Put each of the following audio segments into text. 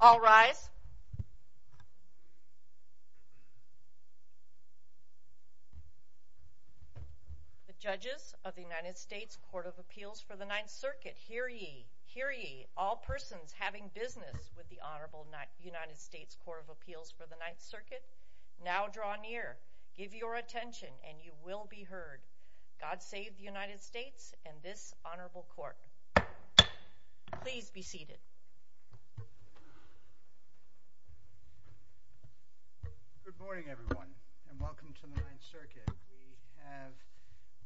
All rise. The judges of the United States Court of Appeals for the Ninth Circuit, hear ye, hear ye, all persons having business with the Honorable United States Court of Appeals for the Ninth Circuit, now draw near, give your attention, and you will be heard. God save the United States and this Honorable Court. Please be seated. Good morning, everyone, and welcome to the Ninth Circuit. We have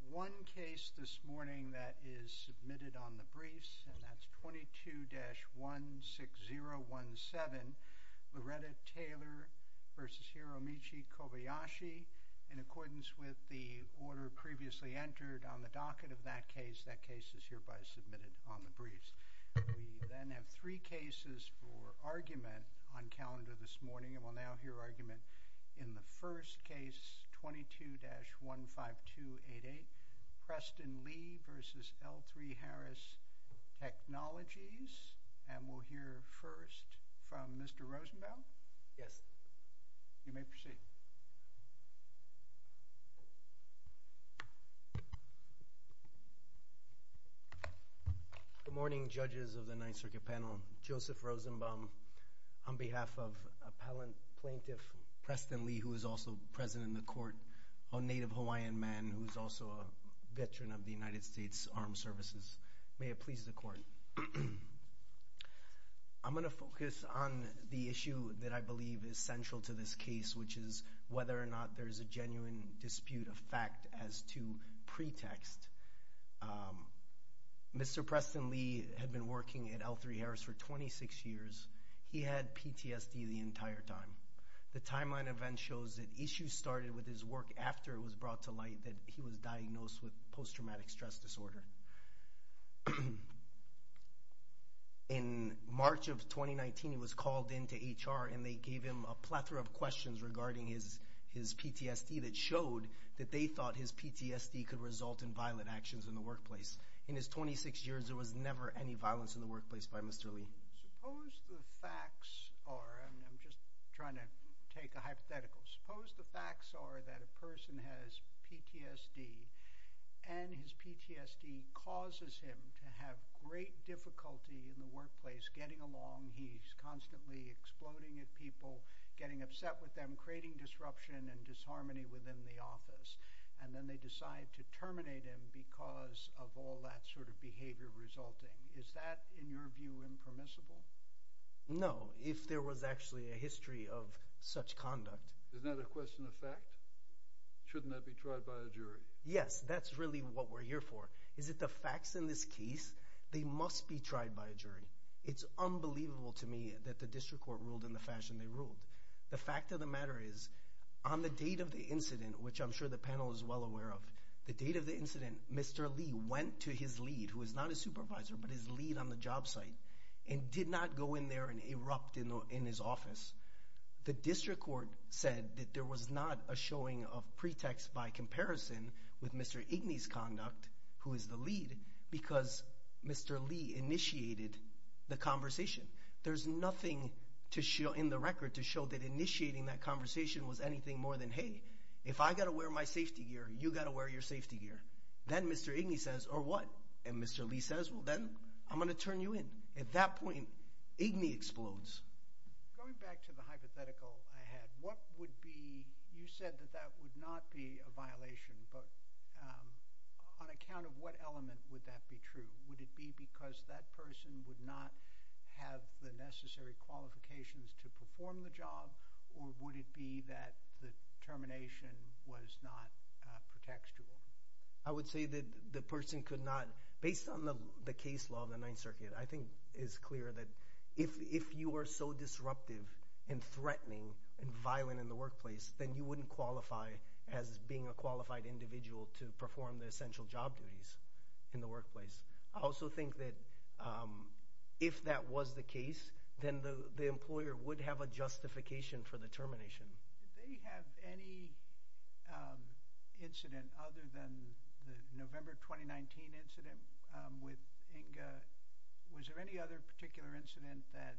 one case this morning that is submitted on the briefs, and that's 22-16017, Loretta Taylor v. Hiromichi Kobayashi. In accordance with the order previously entered on the docket of that case, that case is hereby submitted on the briefs. We then have three cases for argument on calendar this morning, and we'll now hear argument in the first case, 22-15288, Preston Lee v. L3Harris Technologies, and we'll hear first from Mr. Rosenbaum. Yes. You may proceed. Good morning, judges of the Ninth Circuit panel. Joseph Rosenbaum, on behalf of Appellant Plaintiff Preston Lee, who is also present in the court, a Native Hawaiian man who is also a veteran of the United States Armed Services. May it please the court. I'm going to focus on the issue that I believe is central to this case, which is whether or not there is a genuine dispute of fact as to pretext. Mr. Preston Lee had been working at L3Harris for 26 years. He had PTSD the entire time. The timeline event shows that issues started with his work after it was brought to light that he was diagnosed with post-traumatic stress disorder. In March of 2019, he was called into HR, and they gave him a plethora of questions regarding his PTSD that showed that they thought his PTSD could result in violent actions in the workplace. In his 26 years, there was never any violence in the workplace by Mr. Lee. Suppose the facts are, and I'm just trying to take a hypothetical, suppose the facts are that a person has PTSD, and his PTSD causes him to have great difficulty in the workplace getting along. He's constantly exploding at people, getting upset with them, creating disruption and disharmony within the office, and then they decide to terminate him because of all that sort of behavior resulting. Is that, in your view, impermissible? No, if there was actually a history of such conduct. Isn't that a question of fact? Shouldn't that be tried by a jury? Yes, that's really what we're here for. Is it the facts in this case? They must be tried by a jury. It's unbelievable to me that the district court ruled in the fashion they ruled. The fact of the matter is, on the date of the incident, which I'm sure the panel is well aware of, the date of the incident, Mr. Lee went to his lead, who is not a supervisor, but his lead on the job site, and did not go in there and erupt in his office. The district court said that there was not a showing of pretext by comparison with Mr. Igni's conduct, who is the lead, because Mr. Lee initiated the conversation. There's nothing in the record to show that initiating that conversation was anything more than, hey, if I've got to wear my safety gear, you've got to wear your safety gear. Then Mr. Igni says, or what? And Mr. Lee says, well, then I'm going to turn you in. At that point, Igni explodes. Going back to the hypothetical I had, what would be – you said that that would not be a violation, but on account of what element would that be true? Would it be because that person would not have the necessary qualifications to perform the job, or would it be that the termination was not pretextual? I would say that the person could not – based on the case law of the Ninth Circuit, I think it's clear that if you are so disruptive and threatening and violent in the workplace, then you wouldn't qualify as being a qualified individual to perform the essential job duties in the workplace. I also think that if that was the case, then the employer would have a justification for the termination. Did they have any incident other than the November 2019 incident with Inga? Was there any other particular incident that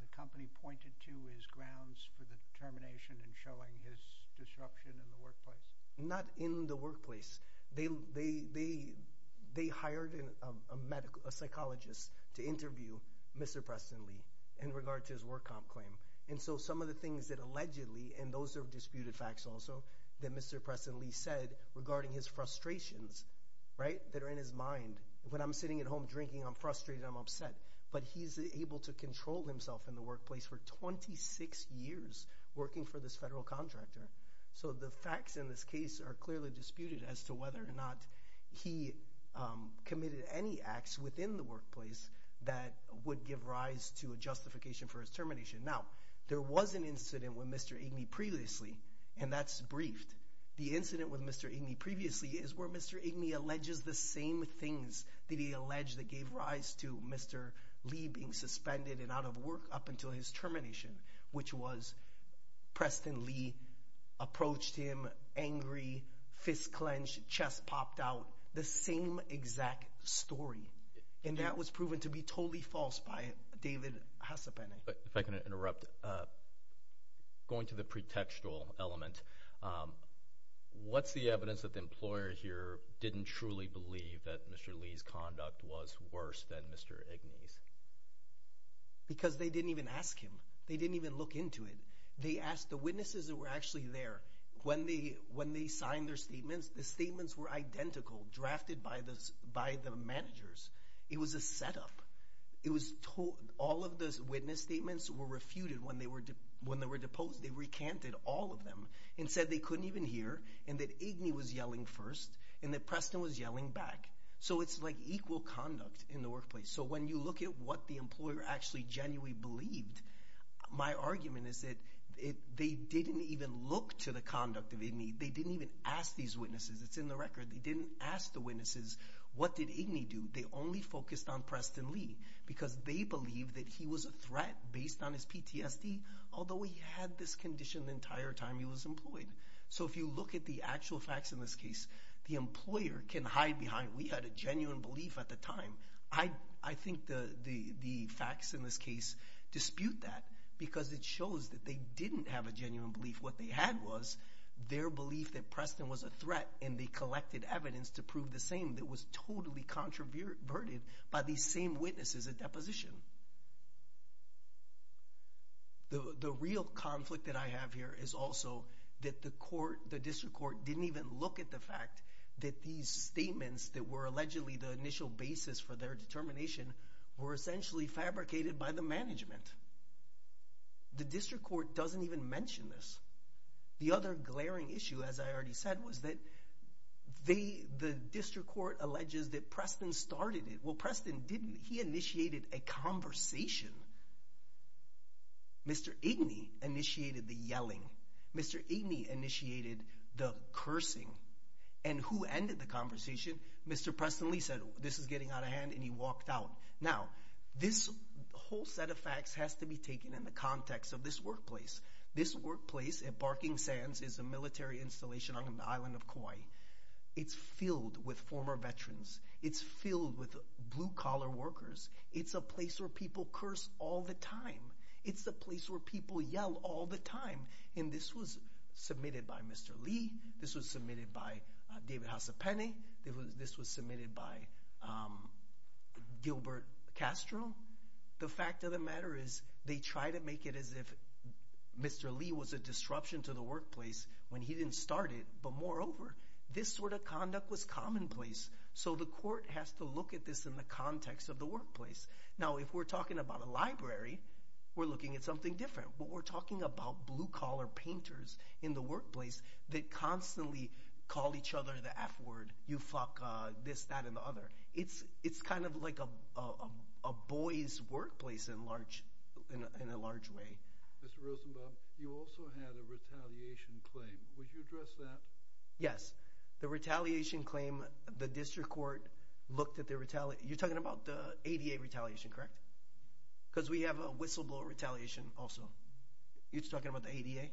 the company pointed to as grounds for the termination and showing his disruption in the workplace? Not in the workplace. They hired a psychologist to interview Mr. Preston Lee in regard to his work comp claim. And so some of the things that allegedly – and those are disputed facts also – that Mr. Preston Lee said regarding his frustrations that are in his mind. When I'm sitting at home drinking, I'm frustrated, I'm upset. But he's able to control himself in the workplace for 26 years working for this federal contractor. So the facts in this case are clearly disputed as to whether or not he committed any acts within the workplace that would give rise to a justification for his termination. Now, there was an incident with Mr. Igni previously, and that's briefed. The incident with Mr. Igni previously is where Mr. Igni alleges the same things that he alleged that gave rise to Mr. Lee being suspended and out of work up until his termination, which was Preston Lee approached him angry, fist clenched, chest popped out. The same exact story. And that was proven to be totally false by David Hassapani. If I can interrupt, going to the pretextual element, what's the evidence that the employer here didn't truly believe that Mr. Lee's conduct was worse than Mr. Igni's? Because they didn't even ask him. They didn't even look into it. They asked the witnesses that were actually there. When they signed their statements, the statements were identical, drafted by the managers. It was a setup. All of the witness statements were refuted. When they were deposed, they recanted all of them and said they couldn't even hear and that Igni was yelling first and that Preston was yelling back. So it's like equal conduct in the workplace. So when you look at what the employer actually genuinely believed, my argument is that they didn't even look to the conduct of Igni. They didn't even ask these witnesses. It's in the record. They didn't ask the witnesses what did Igni do. They only focused on Preston Lee because they believed that he was a threat based on his PTSD, although he had this condition the entire time he was employed. So if you look at the actual facts in this case, the employer can hide behind we had a genuine belief at the time. I think the facts in this case dispute that because it shows that they didn't have a genuine belief. What they had was their belief that Preston was a threat and they collected evidence to prove the same. It was totally controverted by these same witnesses at deposition. The real conflict that I have here is also that the district court didn't even look at the fact that these statements that were allegedly the initial basis for their determination were essentially fabricated by the management. The district court doesn't even mention this. The other glaring issue, as I already said, was that the district court alleges that Preston started it. Well, Preston, he initiated a conversation. Mr. Igni initiated the yelling. Mr. Igni initiated the cursing. And who ended the conversation? Mr. Preston Lee said, this is getting out of hand, and he walked out. Now, this whole set of facts has to be taken in the context of this workplace. This workplace at Barking Sands is a military installation on the island of Kauai. It's filled with former veterans. It's filled with blue-collar workers. It's a place where people curse all the time. It's a place where people yell all the time. And this was submitted by Mr. Lee. This was submitted by David Hasepene. This was submitted by Gilbert Castro. The fact of the matter is they try to make it as if Mr. Lee was a disruption to the workplace when he didn't start it. But moreover, this sort of conduct was commonplace. So the court has to look at this in the context of the workplace. Now, if we're talking about a library, we're looking at something different. But we're talking about blue-collar painters in the workplace that constantly call each other the F word, you fuck this, that, and the other. It's kind of like a boy's workplace in a large way. Mr. Rosenbaum, you also had a retaliation claim. Would you address that? Yes. The retaliation claim, the district court looked at the retaliation. You're talking about the ADA retaliation, correct? Because we have a whistleblower retaliation also. You're talking about the ADA?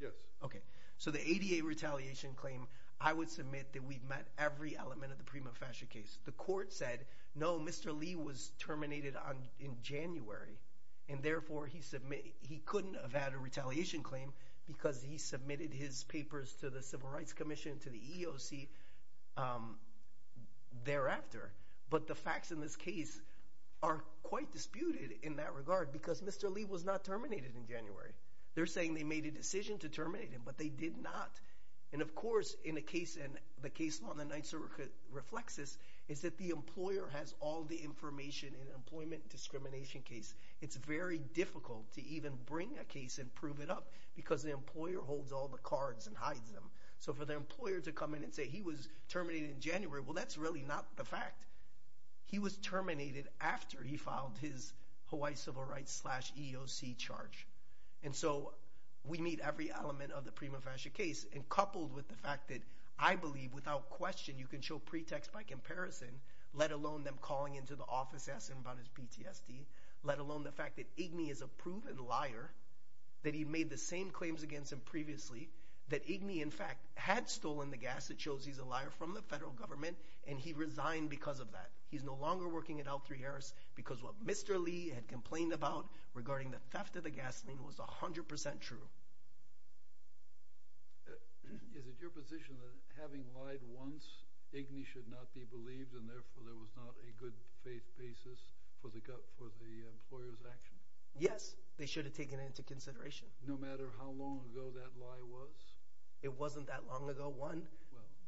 Yes. Okay. So the ADA retaliation claim, I would submit that we've met every element of the Prima Fascia case. The court said, no, Mr. Lee was terminated in January, and therefore he couldn't have had a retaliation claim because he submitted his papers to the Civil Rights Commission, to the EEOC thereafter. But the facts in this case are quite disputed in that regard because Mr. Lee was not terminated in January. They're saying they made a decision to terminate him, but they did not. And, of course, in the case law, and the Ninth Circuit reflects this, is that the employer has all the information in an employment discrimination case. It's very difficult to even bring a case and prove it up because the employer holds all the cards and hides them. So for the employer to come in and say he was terminated in January, well, that's really not the fact. He was terminated after he filed his Hawaii Civil Rights slash EEOC charge. And so we meet every element of the Prima Fascia case, and coupled with the fact that I believe, without question, you can show pretext by comparison, let alone them calling into the office asking about his PTSD, let alone the fact that Igni is a proven liar, that he made the same claims against him previously, that Igni, in fact, had stolen the gas that shows he's a liar from the federal government, and he resigned because of that. He's no longer working at L3Harris because what Mr. Lee had complained about regarding the theft of the gasoline was 100% true. Is it your position that having lied once, Igni should not be believed, and therefore there was not a good faith basis for the employer's action? Yes, they should have taken it into consideration. No matter how long ago that lie was? It wasn't that long ago, one.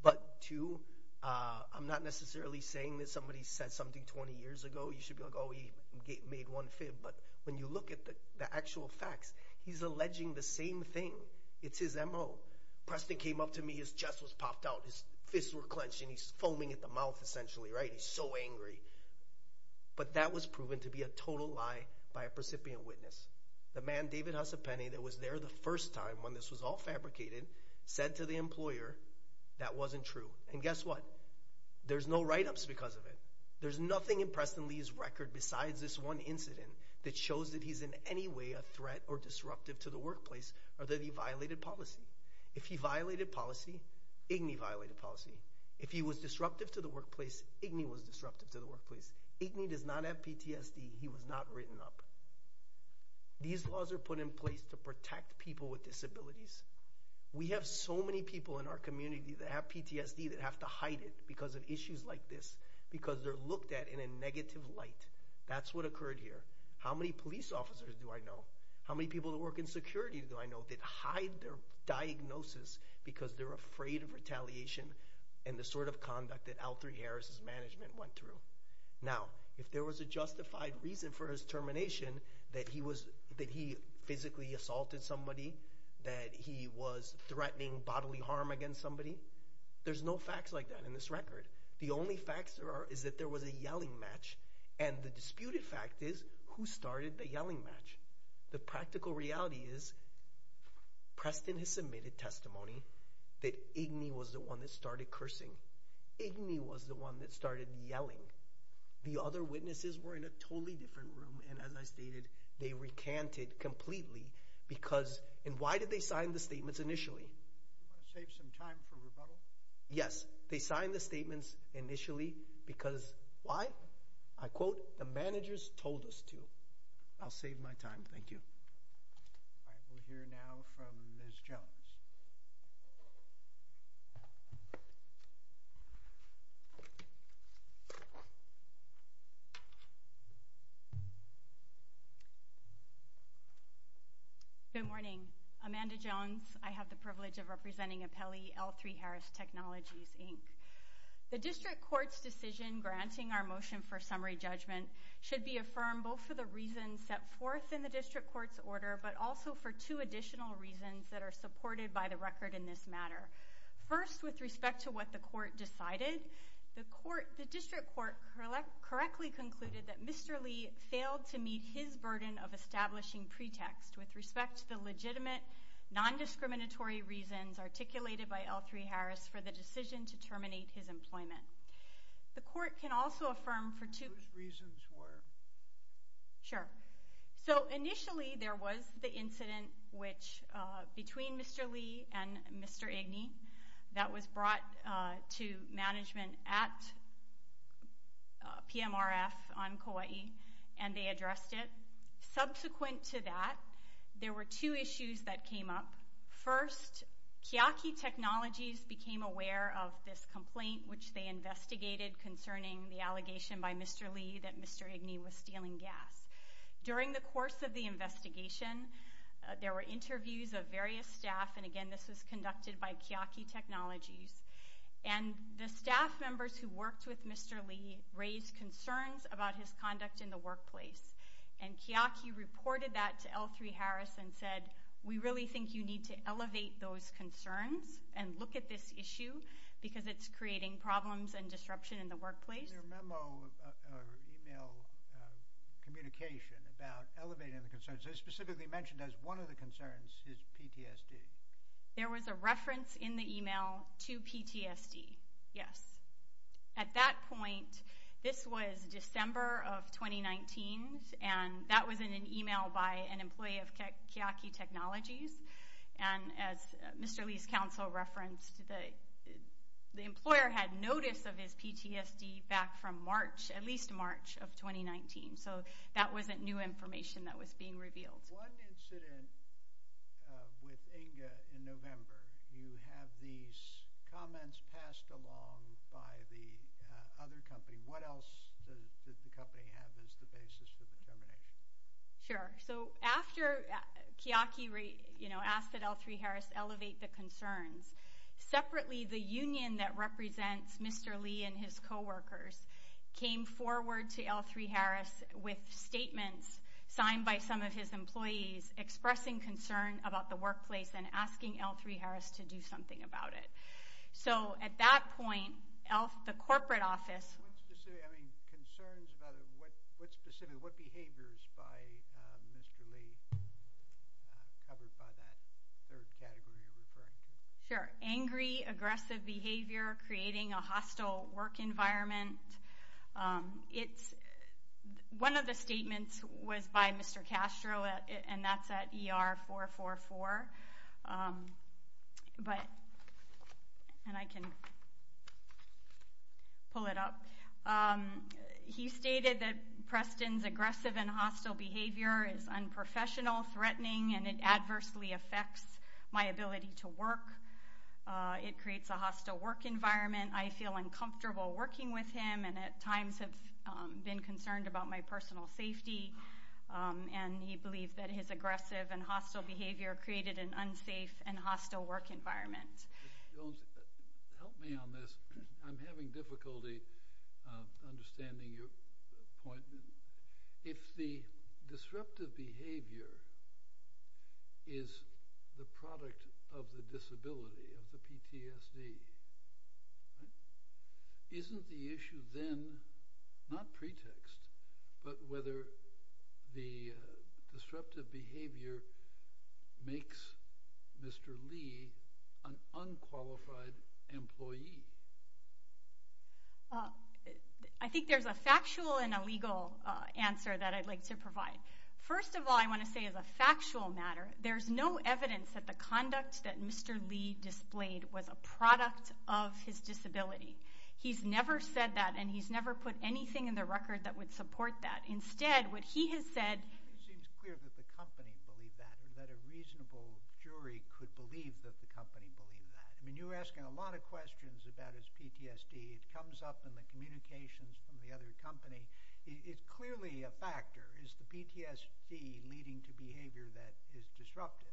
But two, I'm not necessarily saying that somebody said something 20 years ago. You should be like, oh, he made one fib, but when you look at the actual facts, he's alleging the same thing. It's his M.O. Preston came up to me, his chest was popped out, his fists were clenched, and he's foaming at the mouth essentially, right? He's so angry. But that was proven to be a total lie by a precipient witness. The man, David Husapeni, that was there the first time when this was all fabricated, said to the employer that wasn't true. And guess what? There's no write-ups because of it. There's nothing in Preston Lee's record besides this one incident that shows that he's in any way a threat or disruptive to the workplace or that he violated policy. If he violated policy, Igni violated policy. If he was disruptive to the workplace, Igni was disruptive to the workplace. Igni does not have PTSD. He was not written up. These laws are put in place to protect people with disabilities. We have so many people in our community that have PTSD that have to hide it because of issues like this, because they're looked at in a negative light. That's what occurred here. How many police officers do I know? How many people that work in security do I know that hide their diagnosis because they're afraid of retaliation and the sort of conduct that Alfre Harris' management went through? Now, if there was a justified reason for his termination, that he physically assaulted somebody, that he was threatening bodily harm against somebody, there's no facts like that in this record. The only facts there are is that there was a yelling match, and the disputed fact is who started the yelling match. The practical reality is Preston has submitted testimony that Igni was the one that started cursing. Igni was the one that started yelling. The other witnesses were in a totally different room, and as I stated, they recanted completely because – and why did they sign the statements initially? To save some time for rebuttal? Yes. They signed the statements initially because why? I quote, the managers told us to. I'll save my time. Thank you. All right. We'll hear now from Ms. Jones. Good morning. Amanda Jones. I have the privilege of representing Apelli L. 3 Harris Technologies, Inc. The district court's decision granting our motion for summary judgment should be affirmed both for the reasons set forth in the district court's order, but also for two additional reasons that are supported by the record in this matter. First, with respect to what the court decided, the district court correctly concluded that Mr. Lee failed to meet his burden of establishing pretext with respect to the legitimate, non-discriminatory reasons articulated by L. 3 Harris for the decision to terminate his employment. The court can also affirm for two – Whose reasons were? Sure. So initially there was the incident which – between Mr. Lee and Mr. Igni that was brought to management at PMRF on Kauai, and they addressed it. Subsequent to that, there were two issues that came up. First, Kiaki Technologies became aware of this complaint which they investigated concerning the allegation by Mr. Lee that Mr. Igni was stealing gas. During the course of the investigation, there were interviews of various staff, and again this was conducted by Kiaki Technologies, and the staff members who worked with Mr. Lee raised concerns about his conduct in the workplace. And Kiaki reported that to L. 3 Harris and said, we really think you need to elevate those concerns and look at this issue because it's creating problems and disruption in the workplace. In their memo or email communication about elevating the concerns, they specifically mentioned as one of the concerns is PTSD. There was a reference in the email to PTSD, yes. At that point, this was December of 2019, and that was in an email by an employee of Kiaki Technologies, and as Mr. Lee's counsel referenced, the employer had notice of his PTSD back from March, at least March of 2019. So that wasn't new information that was being revealed. In one incident with Inga in November, you have these comments passed along by the other company. What else did the company have as the basis for the determination? Sure. So after Kiaki asked that L. 3 Harris elevate the concerns, separately the union that represents Mr. Lee and his coworkers came forward to L. 3 Harris with statements signed by some of his employees expressing concern about the workplace and asking L. 3 Harris to do something about it. So at that point, the corporate office. Concerns about it, what specific behaviors by Mr. Lee covered by that third category you're referring to? Sure. Angry, aggressive behavior, creating a hostile work environment. It's one of the statements was by Mr. Castro, and that's at ER 444. But and I can pull it up. He stated that Preston's aggressive and hostile behavior is unprofessional, threatening, and it adversely affects my ability to work. It creates a hostile work environment. I feel uncomfortable working with him and at times have been concerned about my personal safety. And he believed that his aggressive and hostile behavior created an unsafe and hostile work environment. Help me on this. I'm having difficulty understanding your point. If the disruptive behavior is the product of the disability of the PTSD. Isn't the issue then not pretext, but whether the disruptive behavior makes Mr. Lee an unqualified employee? I think there's a factual and a legal answer that I'd like to provide. First of all, I want to say is a factual matter. There's no evidence that the conduct that Mr. Lee displayed was a product of his disability. He's never said that, and he's never put anything in the record that would support that. Instead, what he has said. It seems clear that the company believed that, that a reasonable jury could believe that the company believed that. You're asking a lot of questions about his PTSD. It comes up in the communications from the other company. It's clearly a factor. Is the PTSD leading to behavior that is disruptive?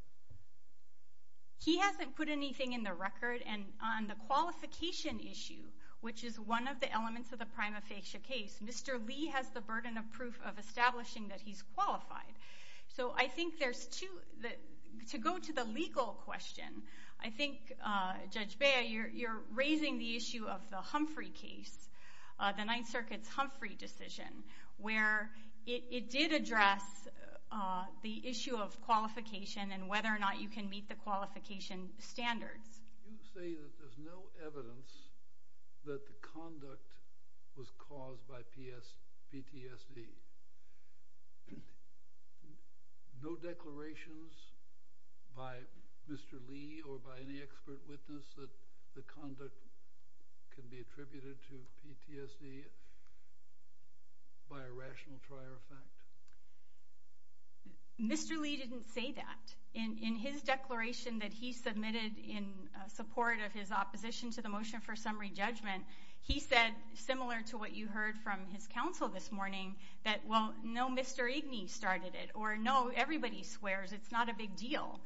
He hasn't put anything in the record. And on the qualification issue, which is one of the elements of the prima facie case, Mr. Lee has the burden of proof of establishing that he's qualified. So I think there's two. To go to the legal question, I think, Judge Bea, you're raising the issue of the Humphrey case, the Ninth Circuit's Humphrey decision, where it did address the issue of qualification and whether or not you can meet the qualification standards. You say that there's no evidence that the conduct was caused by PTSD. No declarations by Mr. Lee or by any expert witness that the conduct can be attributed to PTSD by a rational trier of fact? Mr. Lee didn't say that. In his declaration that he submitted in support of his opposition to the motion for summary judgment, he said, similar to what you heard from his counsel this morning, that, well, no, Mr. Igni started it, or, no, everybody swears. It's not a big deal.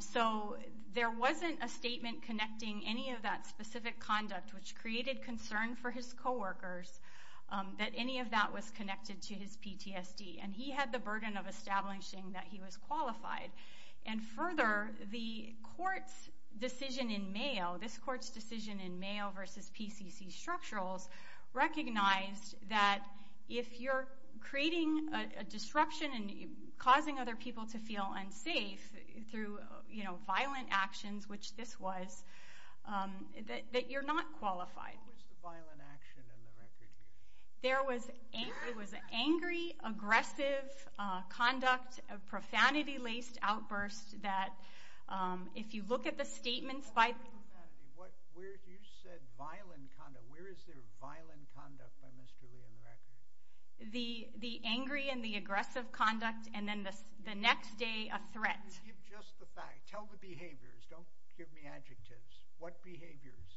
So there wasn't a statement connecting any of that specific conduct, which created concern for his coworkers, that any of that was connected to his PTSD. And he had the burden of establishing that he was qualified. And further, the court's decision in Mayo, this court's decision in Mayo versus PCC Structurals, recognized that if you're creating a disruption and causing other people to feel unsafe through violent actions, which this was, that you're not qualified. What was the violent action in the record? There was angry, aggressive conduct, profanity-laced outbursts that, if you look at the statements by Where is profanity? You said violent conduct. Where is there violent conduct by Mr. Lee in the record? The angry and the aggressive conduct, and then the next day, a threat. Just the fact. Tell the behaviors. Don't give me adjectives. What behaviors?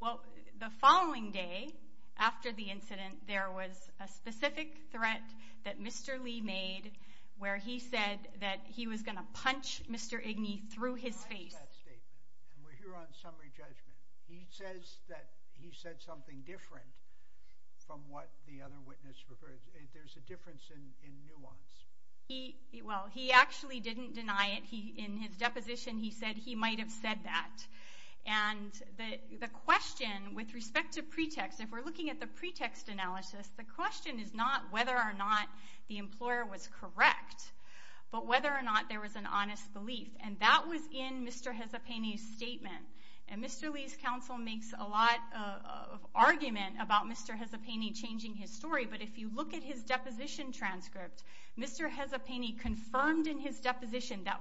Well, the following day, after the incident, there was a specific threat that Mr. Lee made, where he said that he was going to punch Mr. Igney through his face. And we're here on summary judgment. He says that he said something different from what the other witness referred to. There's a difference in nuance. Well, he actually didn't deny it. In his deposition, he said he might have said that. And the question with respect to pretext, if we're looking at the pretext analysis, the question is not whether or not the employer was correct, but whether or not there was an honest belief. And that was in Mr. Hezapeni's statement. And Mr. Lee's counsel makes a lot of argument about Mr. Hezapeni changing his story, but if you look at his deposition transcript, Mr. Hezapeni confirmed in his deposition that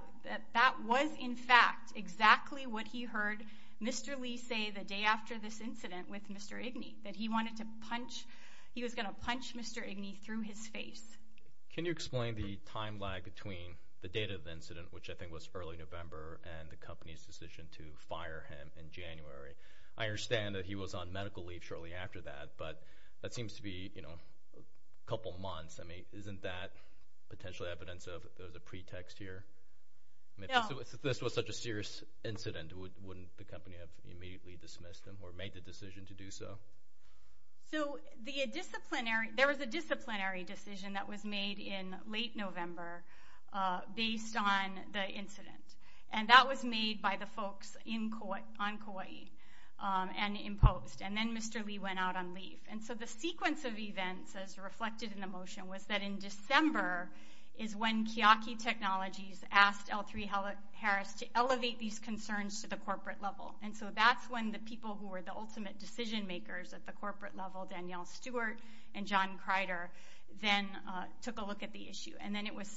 that was, in fact, exactly what he heard Mr. Lee say the day after this incident with Mr. Igney, that he wanted to punch, he was going to punch Mr. Igney through his face. Can you explain the time lag between the date of the incident, which I think was early November, and the company's decision to fire him in January? I understand that he was on medical leave shortly after that, but that seems to be a couple months. I mean, isn't that potential evidence of there's a pretext here? If this was such a serious incident, wouldn't the company have immediately dismissed him or made the decision to do so? So there was a disciplinary decision that was made in late November based on the incident, and that was made by the folks on Kauai and imposed. And then Mr. Lee went out on leave. And so the sequence of events, as reflected in the motion, was that in December is when Kiyaki Technologies asked L3Harris to elevate these concerns to the corporate level. And so that's when the people who were the ultimate decision makers at the corporate level, Danielle Stewart and John Kreider, then took a look at the issue. And then it was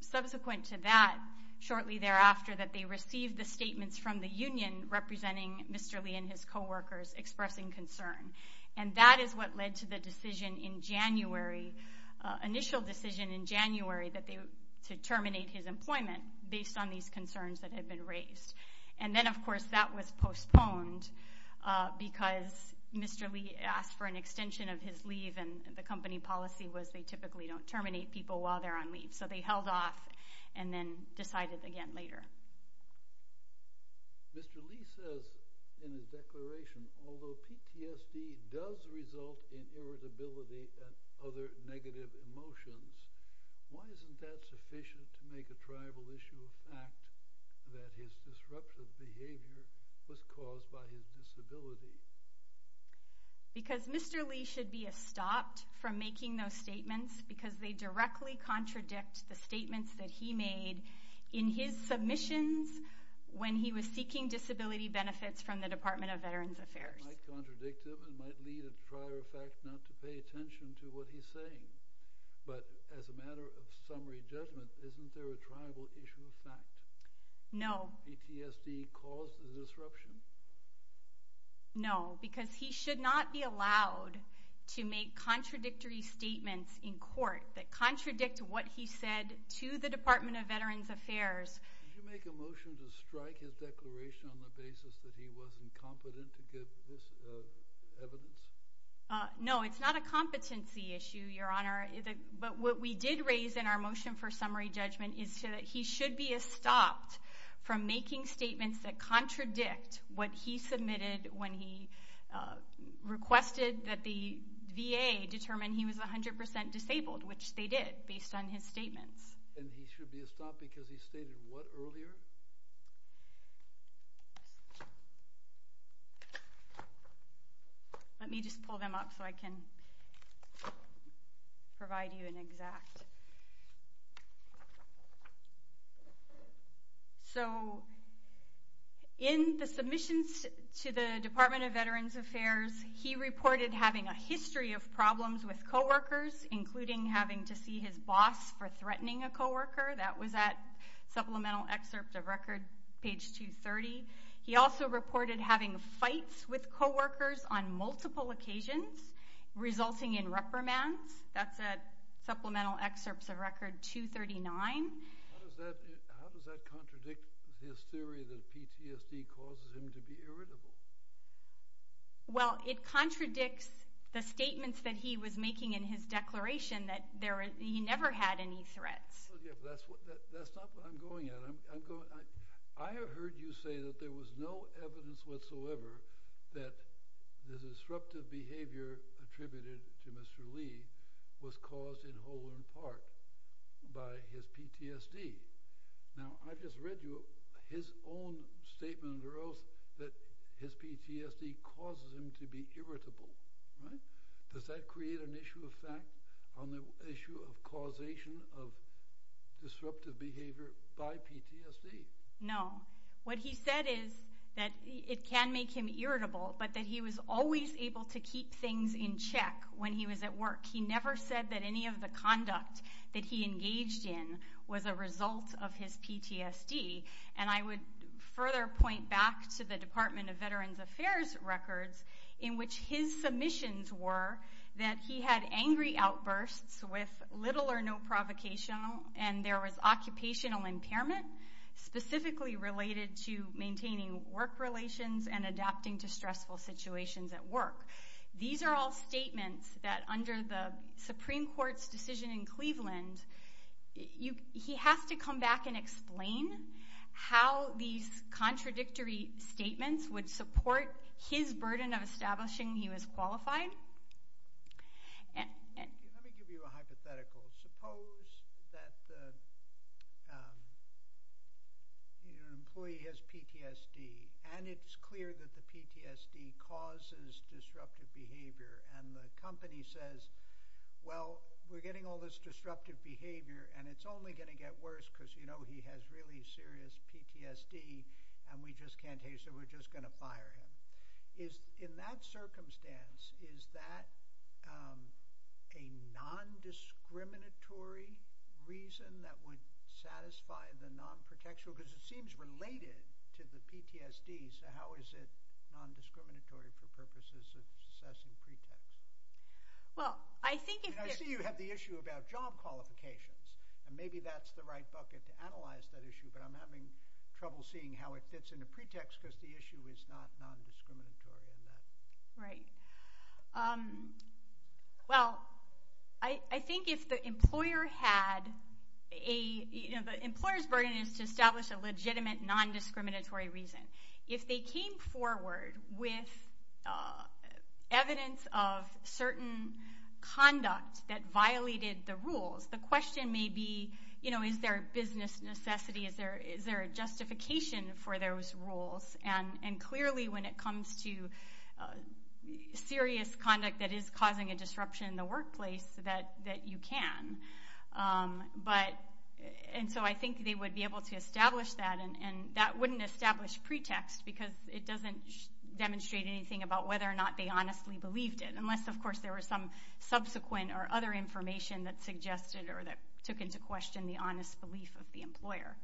subsequent to that, shortly thereafter, that they received the statements from the union representing Mr. Lee and his coworkers expressing concern. And that is what led to the initial decision in January to terminate his employment based on these concerns that had been raised. And then, of course, that was postponed because Mr. Lee asked for an extension of his leave, and the company policy was they typically don't terminate people while they're on leave. So they held off and then decided again later. Mr. Lee says in his declaration, although PTSD does result in irritability and other negative emotions, why isn't that sufficient to make a tribal issue of fact that his disruptive behavior was caused by his disability? Because Mr. Lee should be stopped from making those statements because they directly contradict the statements that he made in his submissions when he was seeking disability benefits from the Department of Veterans Affairs. It might contradict him. It might lead, in prior fact, not to pay attention to what he's saying. But as a matter of summary judgment, isn't there a tribal issue of fact? No. PTSD caused the disruption? No, because he should not be allowed to make contradictory statements in court that contradict what he said to the Department of Veterans Affairs. Did you make a motion to strike his declaration on the basis that he wasn't competent to give this evidence? No, it's not a competency issue, Your Honor. But what we did raise in our motion for summary judgment is that he should be stopped from making statements that contradict what he submitted when he requested that the VA determine he was 100% disabled, which they did based on his statements. And he should be stopped because he stated what earlier? Thank you. Let me just pull them up so I can provide you an exact. So in the submissions to the Department of Veterans Affairs, he reported having a history of problems with coworkers, including having to see his boss for threatening a coworker. That was at Supplemental Excerpts of Record, page 230. He also reported having fights with coworkers on multiple occasions, resulting in reprimands. That's at Supplemental Excerpts of Record 239. How does that contradict his theory that PTSD causes him to be irritable? Well, it contradicts the statements that he was making in his declaration that he never had any threats. That's not what I'm going at. I heard you say that there was no evidence whatsoever that the disruptive behavior attributed to Mr. Lee was caused in whole or in part by his PTSD. Now, I just read you his own statement or oath that his PTSD causes him to be irritable. Does that create an issue of fact on the issue of causation of disruptive behavior by PTSD? No. What he said is that it can make him irritable, but that he was always able to keep things in check when he was at work. He never said that any of the conduct that he engaged in was a result of his PTSD. And I would further point back to the Department of Veterans Affairs records in which his submissions were that he had angry outbursts with little or no provocation, and there was occupational impairment specifically related to maintaining work relations and adapting to stressful situations at work. These are all statements that under the Supreme Court's decision in Cleveland, he has to come back and explain how these contradictory statements would support his burden of establishing he was qualified. Let me give you a hypothetical. Suppose that your employee has PTSD, and it's clear that the PTSD causes disruptive behavior, and the company says, well, we're getting all this disruptive behavior, and it's only going to get worse because, you know, he has really serious PTSD, and we just can't take it, so we're just going to fire him. In that circumstance, is that a non-discriminatory reason that would satisfy the non-protection? Because it seems related to the PTSD, so how is it non-discriminatory for purposes of assessing pretext? Well, I think if you... I see you have the issue about job qualifications, and maybe that's the right bucket to analyze that issue, but I'm having trouble seeing how it fits in the pretext, because the issue is not non-discriminatory in that. Right. Well, I think if the employer had a... The employer's burden is to establish a legitimate non-discriminatory reason. If they came forward with evidence of certain conduct that violated the rules, the question may be, you know, is there a business necessity? Is there a justification for those rules? And clearly, when it comes to serious conduct that is causing a disruption in the workplace, that you can. And so I think they would be able to establish that, and that wouldn't establish pretext, because it doesn't demonstrate anything about whether or not they honestly believed it, unless, of course, there was some subsequent or other information that suggested or that took into question the honest belief of the employer.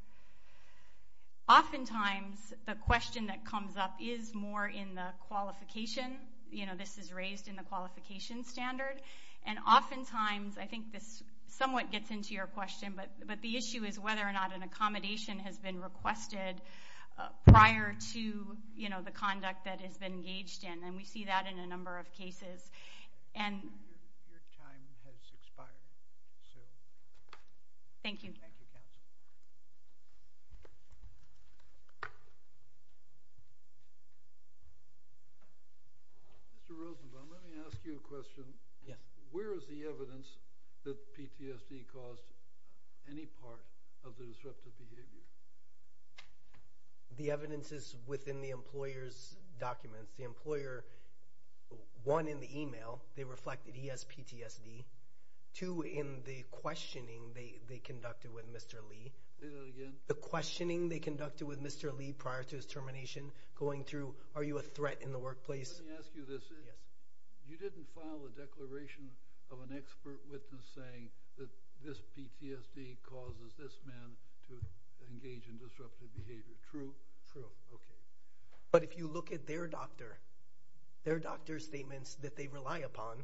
Oftentimes, the question that comes up is more in the qualification. You know, this is raised in the qualification standard. And oftentimes, I think this somewhat gets into your question, but the issue is whether or not an accommodation has been requested prior to, you know, the conduct that has been engaged in. And we see that in a number of cases. Your time has expired, Sue. Thank you. Thank you, counsel. Mr. Rosenbaum, let me ask you a question. Yes. Where is the evidence that PTSD caused any part of the disruptive behavior? The evidence is within the employer's documents. The employer, one, in the email, they reflected he has PTSD. Two, in the questioning they conducted with Mr. Lee. Say that again. The questioning they conducted with Mr. Lee prior to his termination going through, are you a threat in the workplace? Let me ask you this. Yes. You didn't file a declaration of an expert witness saying that this PTSD causes this man to engage in disruptive behavior, true? True. Okay. But if you look at their doctor, their doctor's statements that they rely upon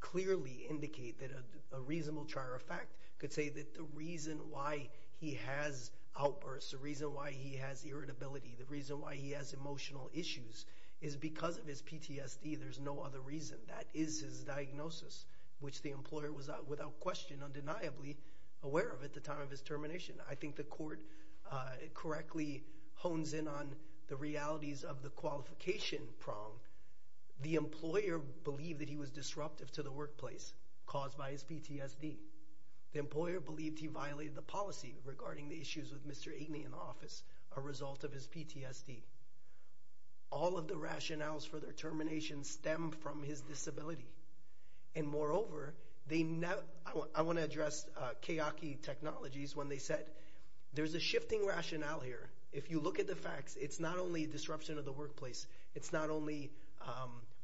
clearly indicate that a reasonable trier of fact could say that the reason why he has outbursts, the reason why he has irritability, the reason why he has emotional issues, is because of his PTSD. There's no other reason. That is his diagnosis, which the employer was, without question, undeniably aware of at the time of his termination. I think the court correctly hones in on the realities of the qualification prong. The employer believed that he was disruptive to the workplace caused by his PTSD. The employer believed he violated the policy regarding the issues with Mr. Aikne in the office, a result of his PTSD. All of the rationales for their termination stem from his disability. Moreover, I want to address Kayaki Technologies when they said there's a shifting rationale here. If you look at the facts, it's not only disruption of the workplace. It's not only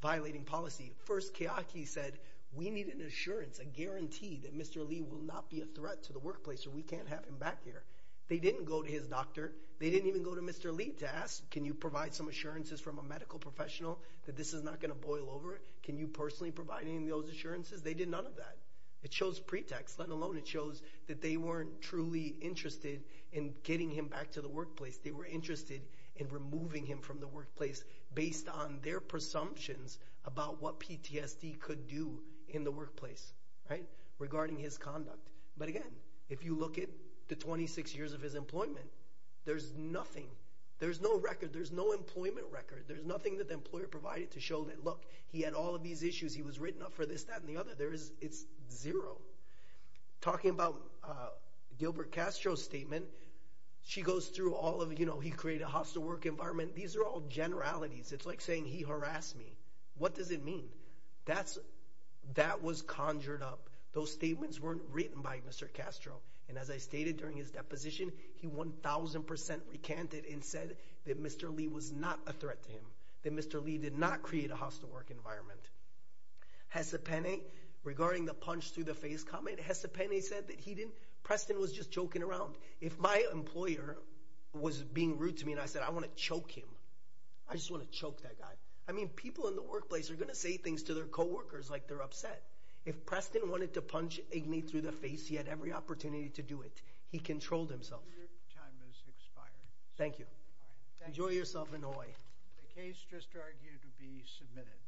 violating policy. First, Kayaki said we need an assurance, a guarantee that Mr. Lee will not be a threat to the workplace or we can't have him back here. They didn't go to his doctor. They didn't even go to Mr. Lee to ask can you provide some assurances from a medical professional that this is not going to boil over. Can you personally provide any of those assurances? They did none of that. It shows pretext, let alone it shows that they weren't truly interested in getting him back to the workplace. They were interested in removing him from the workplace based on their presumptions about what PTSD could do in the workplace regarding his conduct. But again, if you look at the 26 years of his employment, there's nothing. There's no record. There's no employment record. There's nothing that the employer provided to show that, look, he had all of these issues. He was written up for this, that, and the other. It's zero. Talking about Gilbert Castro's statement, she goes through all of, you know, he created a hostile work environment. These are all generalities. It's like saying he harassed me. What does it mean? That was conjured up. Those statements weren't written by Mr. Castro, and as I stated during his deposition, he 1,000% recanted and said that Mr. Lee was not a threat to him, that Mr. Lee did not create a hostile work environment. Hesapene, regarding the punch through the face comment, Hesapene said that he didn't. Preston was just joking around. If my employer was being rude to me and I said I want to choke him, I just want to choke that guy. I mean people in the workplace are going to say things to their coworkers like they're upset. If Preston wanted to punch Igni through the face, he had every opportunity to do it. He controlled himself. Your time has expired. Thank you. Enjoy yourself in Hawaii. The case just argued to be submitted.